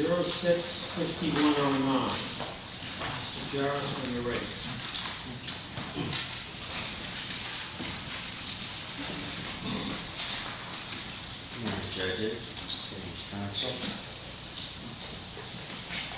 06-5109. Mr. Jarrett, when you're ready.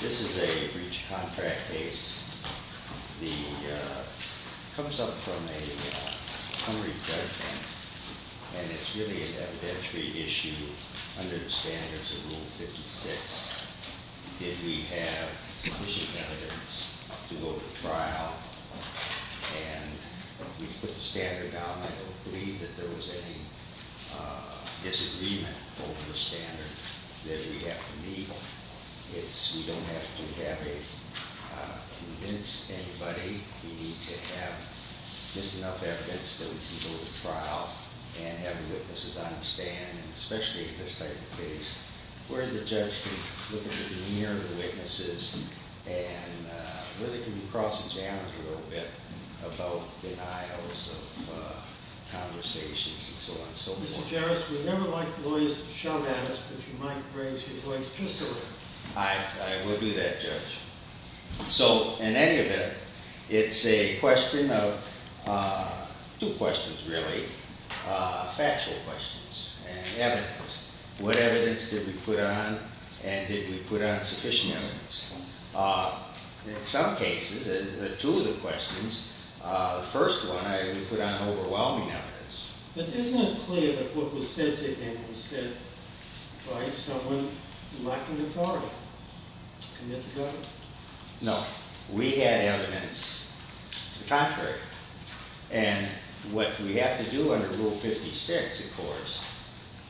This is a breach of contract case. It comes up from a summary judgment, and it's really important that we have sufficient evidence to go to trial. And we put the standard down. I don't believe that there was any disagreement over the standard that we have to meet. We don't have to convince anybody. We need to have just enough evidence that we can go to trial. We need to have sufficient evidence that we can go to trial. We need to have sufficient questions and evidence. What evidence did we put on, and did we put on sufficient evidence? In some cases, in two of the questions, the first one, we put on overwhelming evidence. But isn't it clear that what was said to him was said by someone lacking authority to commit And what we have to do under Rule 56, of course,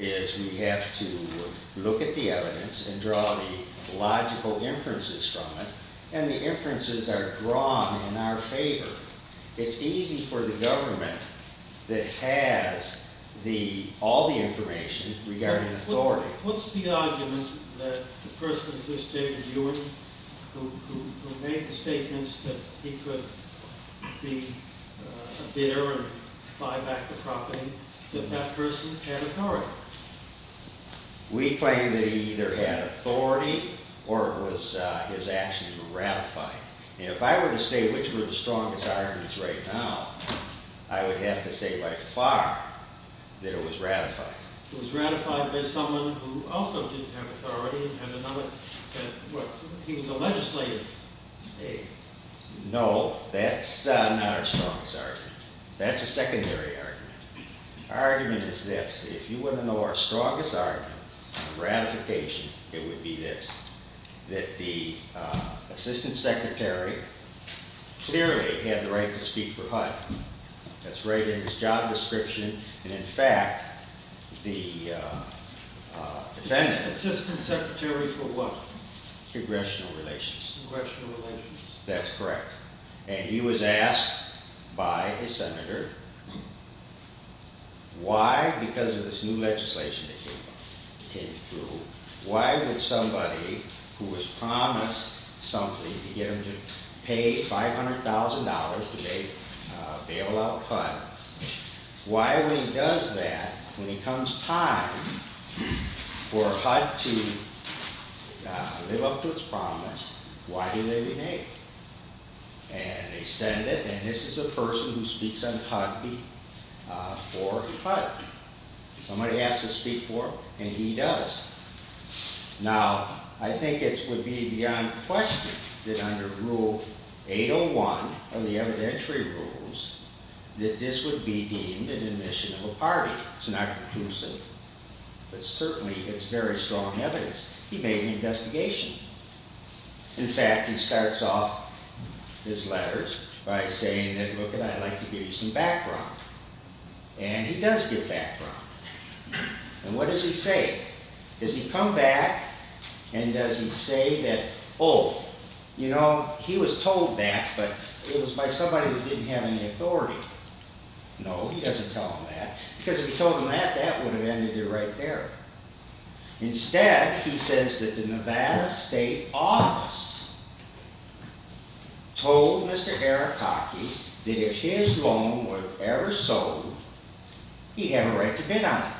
is we have to look at the evidence and draw the logical inferences from it, and the inferences are drawn in our favor. It's easy for the government that has all the information regarding authority. What's the argument that the person at this stage, Ewing, who made the statements that he could be a bidder and buy back the property, that that person had authority? We claim that he either had authority or his actions were ratified. And if I were to say which were the strongest arguments right now, I would have to say by far that it was ratified. It was ratified by someone who also didn't have authority. He was a legislator. No, that's not our strongest argument. That's a secondary argument. Our argument is this. If you want to know our strongest argument on ratification, it would be this, that the Assistant Secretary clearly had the right to speak for HUD. That's right in his job description. And in fact, the defendant... Assistant Secretary for what? Congressional Relations. Congressional Relations. That's correct. And he was asked by his senator, why, because of this new legislation that he came through, why would somebody who was promised something to get him to pay $500,000 to bail out HUD, why when he does that, when it comes time for HUD to live up to its promise, why do they renege? And they send it, and this is a person who speaks on HUD v. HUD. Somebody asks to speak for him, and he does. Now, I think it would be beyond question that under Rule 801 of the evidentiary rules, that this would be deemed an admission of a party. It's not conclusive, but certainly it's very strong evidence. He made an investigation. In fact, he starts off his letters by saying, look, I'd like to give you some background. And he does give background. And what does he say? Does he come back, and does he say oh, you know, he was told that, but it was by somebody who didn't have any authority? No, he doesn't tell him that, because if he told him that, that would have ended it right there. Instead, he says that the Nevada State Office told Mr. Arakaki that if his loan were ever sold, he'd have a right to bid on it.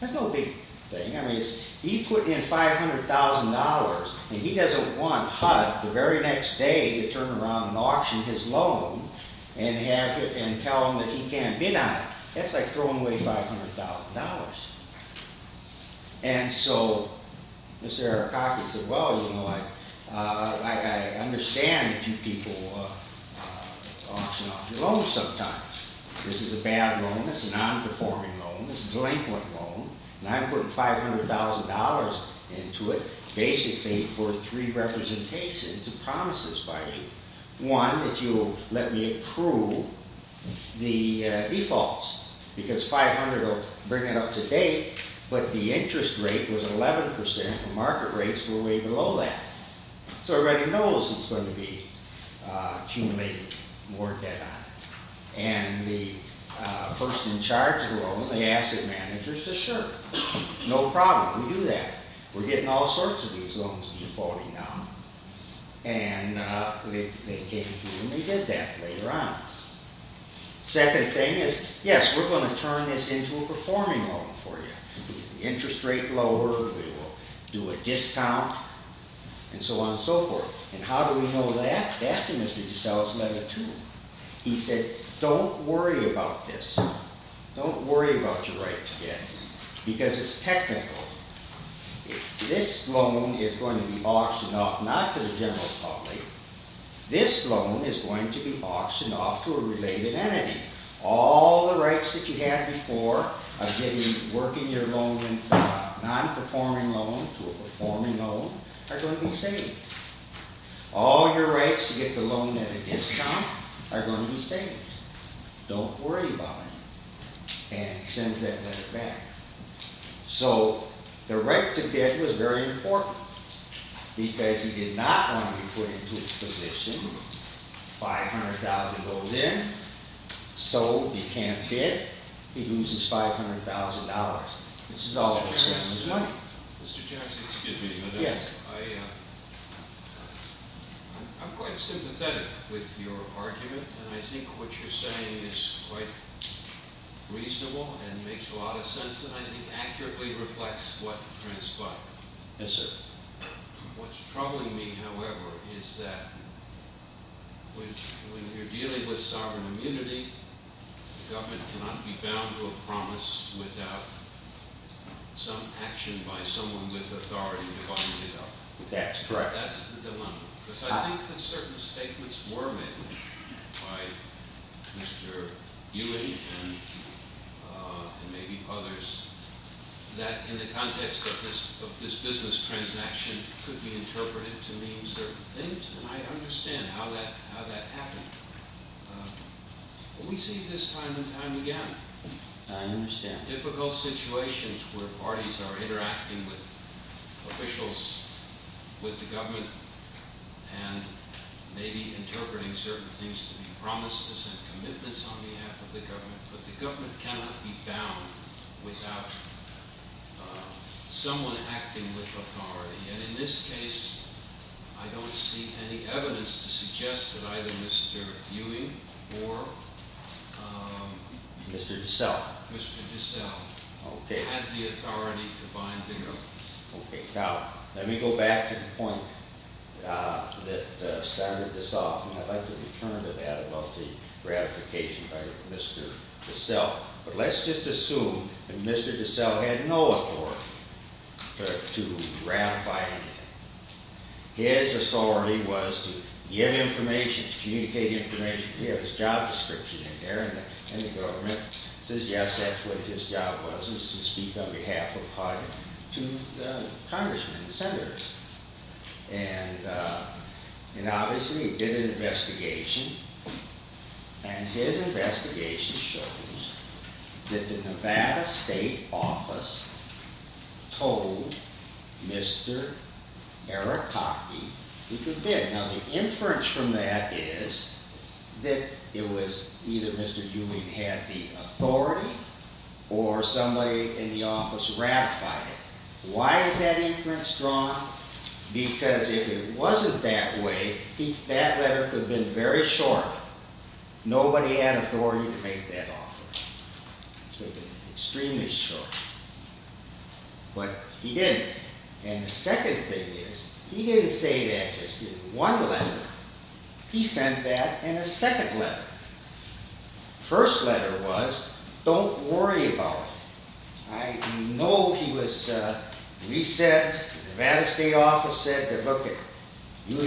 That's no big thing. I mean, he put in $500,000, and he doesn't want HUD the very next day to turn around and auction his loan and tell him that he can't bid on it. That's like throwing away $500,000. And so Mr. Arakaki said, well, you know, I understand that you people auction off your loans sometimes. This is a bad loan, it's a non-performing loan, it's a delinquent loan, and I'm putting $500,000 into it basically for three representations and promises by you. One, that you'll let me approve the defaults, because $500,000 will bring it up to date, but the interest rate was 11%, and market rates were way below that. So everybody knows it's going to be accumulated, more debt on it. And the person in charge of the loan, the asset manager, says sure, no problem, we do that. We're getting all sorts of these loans defaulting now. And they came through and they did that later on. Second thing is, yes, we're going to turn this into a performing loan for you. The interest rate lowered, we will do a discount, and so on and so forth. And how do we know that? That's in Mr. DeSales' letter too. He said, don't worry about this. Don't worry about your rights yet. Because it's technical. This loan is going to be auctioned off not to the general public, this loan is going to be auctioned off to a related entity. All the rights that you had before of working your loan from a non-performing loan to a performing loan are going to be saved. All your rights to get the loan at a discount are going to be saved. Don't worry about it. And he sends that letter back. So the right to bid was very important. Because he did not want to be put into this position. $500,000 goes in. Sold. He can't bid. He loses $500,000. This is all of his family's money. Mr. Jackson, excuse me. Yes. I'm quite sympathetic with your argument. And I think what you're saying is quite reasonable and makes a lot of sense. And I think accurately reflects what Prince bought. Yes, sir. What's troubling me, however, is that when you're dealing with sovereign immunity, the government cannot be bound to a promise without some action by someone with authority to bind it up. That's correct. That's the dilemma. Because I think that certain statements were made by Mr. Ewing and maybe others, that in the context of this business transaction could be interpreted to mean certain things. And I understand how that happened. But we see this time and time again. I understand. We have difficult situations where parties are interacting with officials, with the government, and maybe interpreting certain things to be promises and commitments on behalf of the government. But the government cannot be bound without someone acting with authority. And in this case, I don't see any evidence to suggest that either Mr. Ewing or… Mr. DeSalle. Mr. DeSalle. Okay. Had the authority to bind it up. Okay. Now, let me go back to the point that started this off. And I'd like to return to that about the gratification by Mr. DeSalle. But let's just assume that Mr. DeSalle had no authority to ratify anything. His authority was to give information, communicate information. He had his job description in there. And the government says, yes, that's what his job was, was to speak on behalf of the party to the congressmen and senators. And obviously, he did an investigation. And his investigation shows that the Nevada State Office told Mr. Arakaki he could bid. Now, the inference from that is that it was either Mr. Ewing had the authority or somebody in the office ratified it. Why is that inference strong? Because if it wasn't that way, that letter could have been very short. Nobody had authority to make that offer. It's been extremely short. But he didn't. And the second thing is he didn't say that just in one letter. He sent that in a second letter. The first letter was, don't worry about it. I know he was resent. The Nevada State Office said that, look, if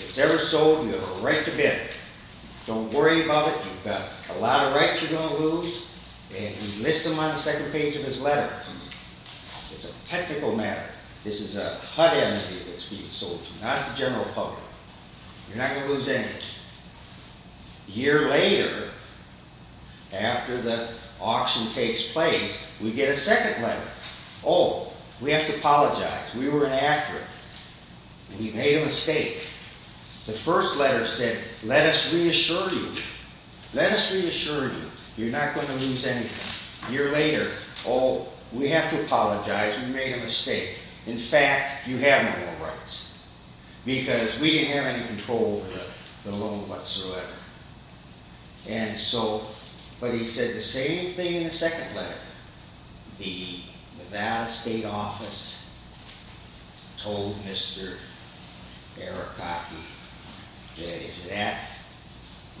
it's ever sold, you have a right to bid. Don't worry about it. You've got a lot of rights you're going to lose. And he lists them on the second page of his letter. It's a technical matter. This is a HUD entity that's being sold to, not the general public. You're not going to lose anything. A year later, after the auction takes place, we get a second letter. Oh, we have to apologize. We were inaccurate. We made a mistake. The first letter said, let us reassure you. Let us reassure you. You're not going to lose anything. A year later, oh, we have to apologize. We made a mistake. In fact, you have no more rights because we didn't have any control over the loan whatsoever. And so, but he said the same thing in the second letter. The Nevada State Office told Mr. Arakaki that if that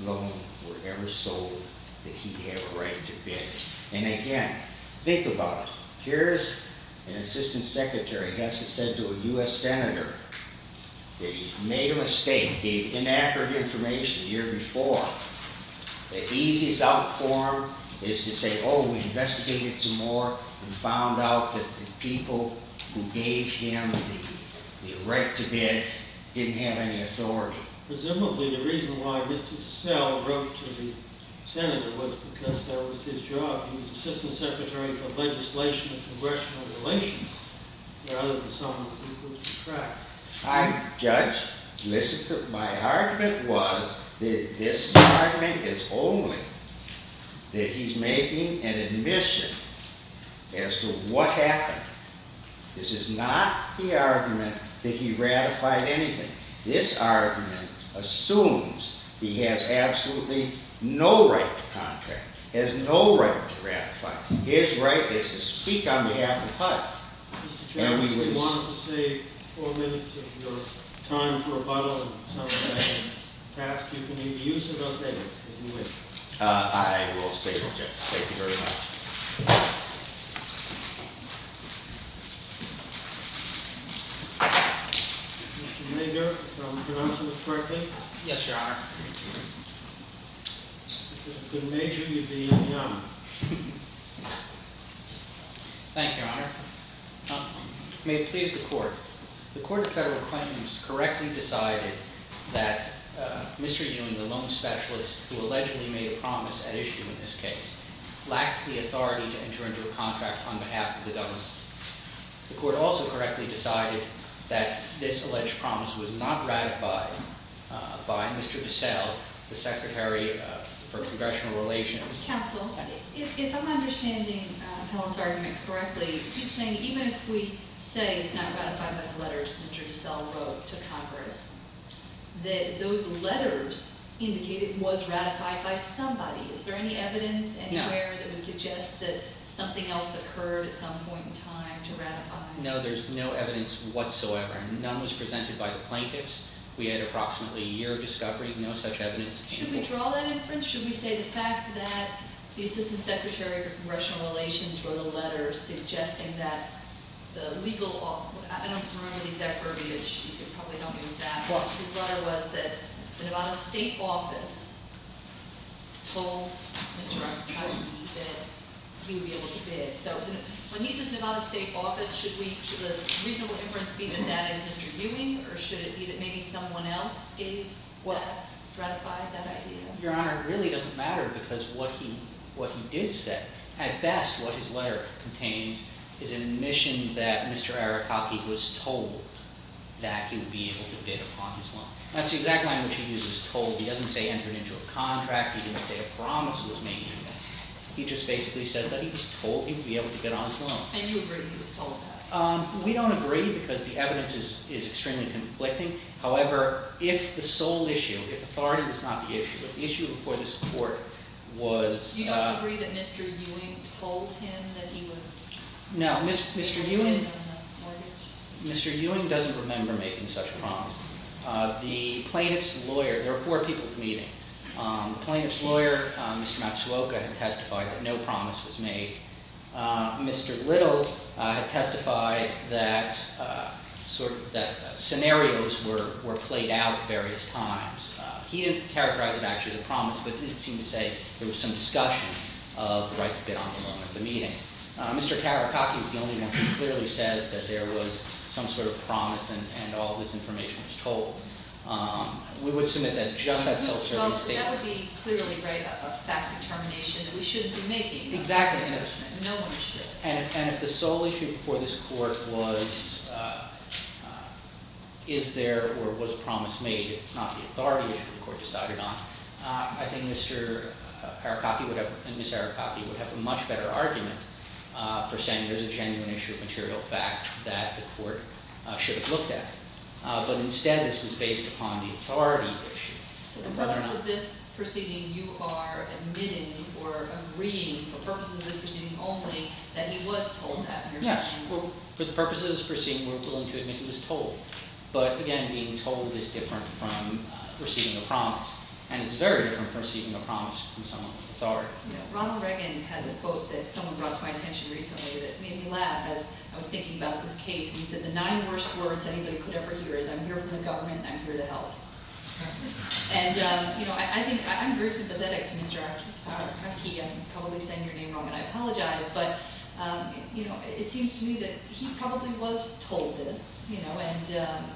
loan were ever sold, that he'd have a right to bid. And again, think about it. Here's an assistant secretary has to say to a U.S. senator that he made a mistake, gave inaccurate information the year before. The easiest out for him is to say, oh, we investigated some more and found out that the people who gave him the right to bid didn't have any authority. Presumably, the reason why Mr. DeSalle wrote to the senator was because that was his job. He was assistant secretary for legislation and congressional relations rather than someone who could track. I, Judge, my argument was that this argument is only that he's making an admission as to what happened. This is not the argument that he ratified anything. This argument assumes he has absolutely no right to contract, has no right to ratify. His right is to speak on behalf of HUD. Mr. Chairman, if you wanted to save four minutes of your time for rebuttal and some of that is passed, you can either use it or save it if you wish. I will save it, yes. Thank you very much. Mr. Major, if I'm pronouncing this correctly. Yes, Your Honor. Good Major, you'd be in the honor. Thank you, Your Honor. May it please the court. The court of federal claims correctly decided that Mr. Ewing, the loan specialist who allegedly made a promise at issue in this case, lacked the authority to enter into a contract on behalf of the government. The court also correctly decided that this alleged promise was not ratified by Mr. DeSalle, the secretary for congressional relations. Counsel, if I'm understanding Helen's argument correctly, even if we say it's not ratified by the letters Mr. DeSalle wrote to Congress, those letters indicated it was ratified by somebody. Is there any evidence anywhere that would suggest that something else occurred at some point in time to ratify it? No, there's no evidence whatsoever. None was presented by the plaintiffs. We had approximately a year of discovery. No such evidence. Should we draw that inference? Or should we say the fact that the assistant secretary for congressional relations wrote a letter suggesting that the legal – I don't remember the exact verbiage. You can probably help me with that. His letter was that the Nevada state office told Mr. Ewing that he would be able to bid. So when he says Nevada state office, should the reasonable inference be that that is Mr. Ewing, or should it be that maybe someone else gave what ratified that idea? Your Honor, it really doesn't matter because what he did say – at best, what his letter contains is an admission that Mr. Arikaki was told that he would be able to bid upon his loan. That's the exact language he used, was told. He doesn't say entered into a contract. He didn't say a promise was made. He just basically says that he was told he would be able to bid on his loan. And you agree he was told that? We don't agree because the evidence is extremely conflicting. However, if the sole issue, if authority was not the issue, if the issue before this court was – You don't agree that Mr. Ewing told him that he was – No, Mr. Ewing doesn't remember making such a promise. The plaintiff's lawyer – there were four people at the meeting. The plaintiff's lawyer, Mr. Matsuoka, testified that no promise was made. Mr. Little had testified that scenarios were played out various times. He didn't characterize it actually as a promise, but he did seem to say there was some discussion of the right to bid on the loan at the meeting. Mr. Arikaki is the only one who clearly says that there was some sort of promise and all of this information was told. We would submit that just that sole survey stated – Well, that would be clearly a fact determination that we shouldn't be making. Exactly. No one should. And if the sole issue before this court was is there or was promise made, it's not the authority issue the court decided on, I think Mr. Arikaki would have – and Ms. Arikaki would have a much better argument for saying there's a genuine issue of material fact that the court should have looked at. But instead, this was based upon the authority issue. So for the purpose of this proceeding, you are admitting or agreeing for purposes of this proceeding only that he was told that? Yes. For the purposes of this proceeding, we're willing to admit he was told. But again, being told is different from receiving a promise, and it's very different from receiving a promise from someone with authority. Ronald Reagan has a quote that someone brought to my attention recently that made me laugh as I was thinking about this case. He said the nine worst words anybody could ever hear is I'm here for the government and I'm here to help. And I think – I'm very sympathetic to Mr. Arikaki. I'm probably saying your name wrong, and I apologize. But it seems to me that he probably was told this, and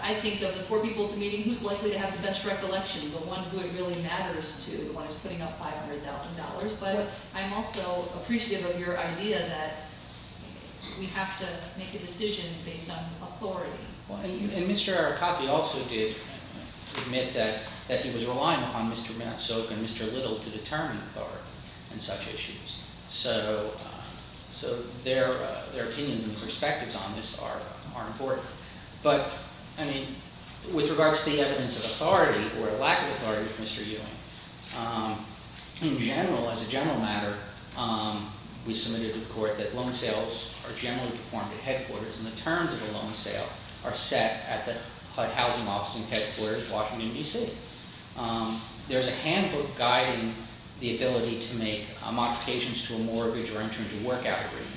I think of the four people at the meeting, who's likely to have the best recollection? The one who it really matters to, the one who's putting up $500,000. But I'm also appreciative of your idea that we have to make a decision based on authority. Well, and Mr. Arikaki also did admit that he was relying upon Mr. Mansoke and Mr. Little to determine authority on such issues. So their opinions and perspectives on this are important. But, I mean, with regards to the evidence of authority or lack of authority of Mr. Ewing, in general, as a general matter, we submitted to the court that loan sales are generally performed at headquarters, and the terms of a loan sale are set at the HUD housing office in headquarters, Washington, D.C. There's a handbook guiding the ability to make modifications to a mortgage or enter into workout agreements.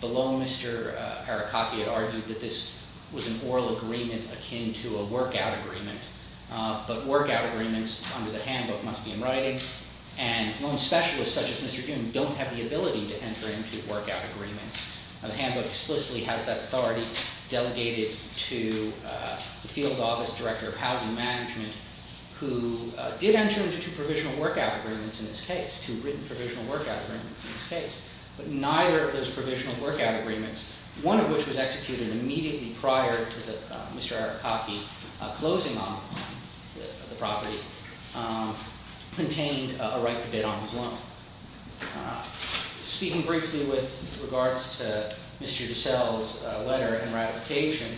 The loan, Mr. Arikaki had argued that this was an oral agreement akin to a workout agreement. But workout agreements under the handbook must be in writing. And loan specialists such as Mr. Ewing don't have the ability to enter into workout agreements. The handbook explicitly has that authority delegated to the field office director of housing management who did enter into two provisional workout agreements in this case, two written provisional workout agreements in this case. But neither of those provisional workout agreements, one of which was executed immediately prior to Mr. Arikaki closing on the property, contained a right to bid on his loan. Speaking briefly with regards to Mr. DeSalle's letter and ratification,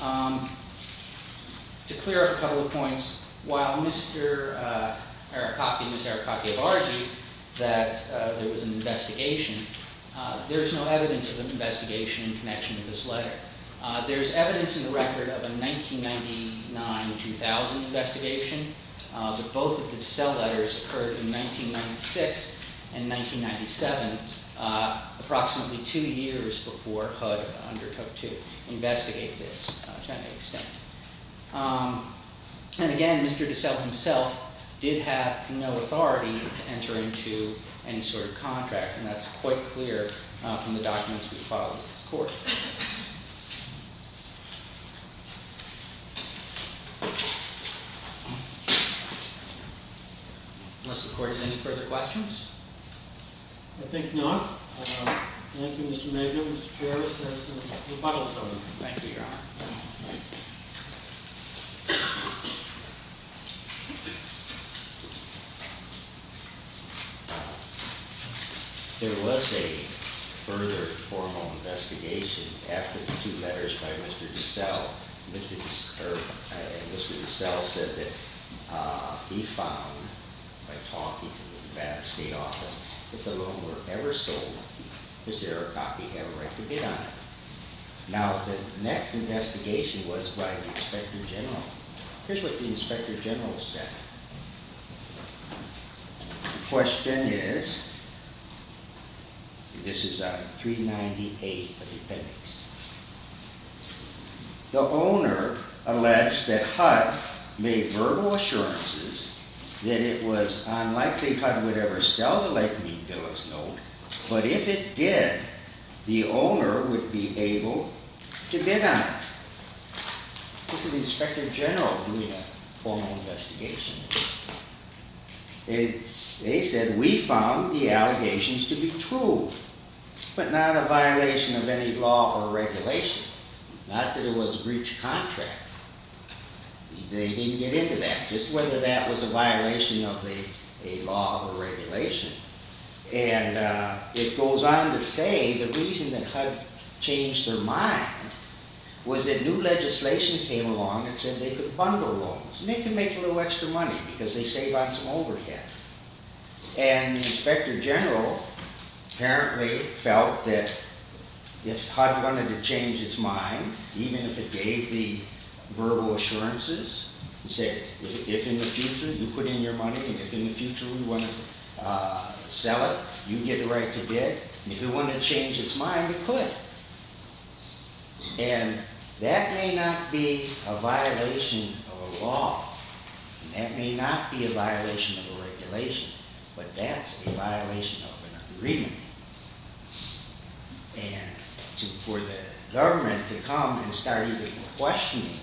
to clear up a couple of points, while Mr. Arikaki and Ms. Arikaki have argued that there was an investigation, there is no evidence of an investigation in connection with this letter. There is evidence in the record of a 1999-2000 investigation. But both of the DeSalle letters occurred in 1996 and 1997, approximately two years before HUD undertook to investigate this to that extent. And again, Mr. DeSalle himself did have no authority to enter into any sort of contract. And that's quite clear from the documents we filed with this court. Unless the court has any further questions? I think not. Thank you, Mr. Megan. Mr. Chair, this is the rebuttal time. Thank you, Your Honor. There was a further formal investigation after the two letters by Mr. DeSalle. Mr. DeSalle said that he found, by talking to the state office, if the loan were ever sold, Mr. Arikaki had a right to bid on it. Now, the next investigation was by the Inspector General. Here's what the Inspector General said. The question is, this is 398 of the appendix. The owner alleged that HUD made verbal assurances that it was unlikely HUD would ever sell the Lightning Bill as loan, but if it did, the owner would be able to bid on it. This is the Inspector General doing a formal investigation. They said, we found the allegations to be true, but not a violation of any law or regulation, not that it was a breach of contract. They didn't get into that, just whether that was a violation of a law or regulation. And it goes on to say the reason that HUD changed their mind was that new legislation came along that said they could bundle loans, and they could make a little extra money because they saved on some overhead. And the Inspector General apparently felt that if HUD wanted to change its mind, even if it gave the verbal assurances, and said, if in the future you put in your money, and if in the future we want to sell it, you get the right to bid, if it wanted to change its mind, it could. And that may not be a violation of a law, and that may not be a violation of a regulation, but that's a violation of an agreement. And for the government to come and start even questioning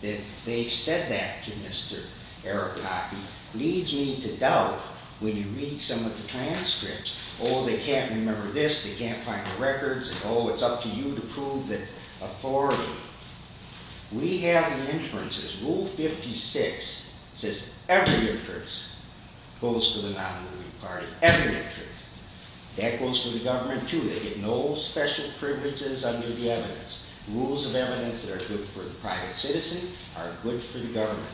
that they said that to Mr. Arapaki, leads me to doubt when you read some of the transcripts. Oh, they can't remember this, they can't find the records, and oh, it's up to you to prove that authority. We have the inferences. Rule 56 says every inference goes to the non-moving party. Every inference. That goes for the government, too. They get no special privileges under the evidence. Rules of evidence that are good for the private citizen are good for the government.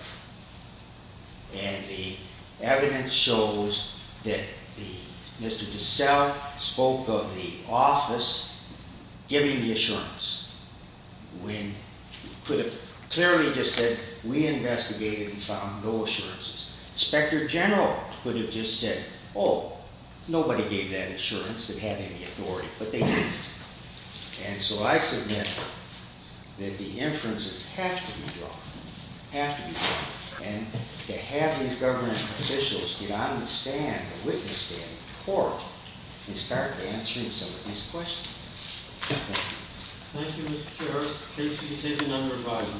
And the evidence shows that Mr. DeSalle spoke of the office giving the assurance, when he could have clearly just said, we investigated and found no assurances. Inspector General could have just said, oh, nobody gave that assurance that had any authority, but they did. And so I submit that the inferences have to be drawn. Have to be drawn. And to have these government officials get on the stand, the witness stand, the court, and start answering some of these questions. Thank you, Mr. Chair. Please take a number of vitamins.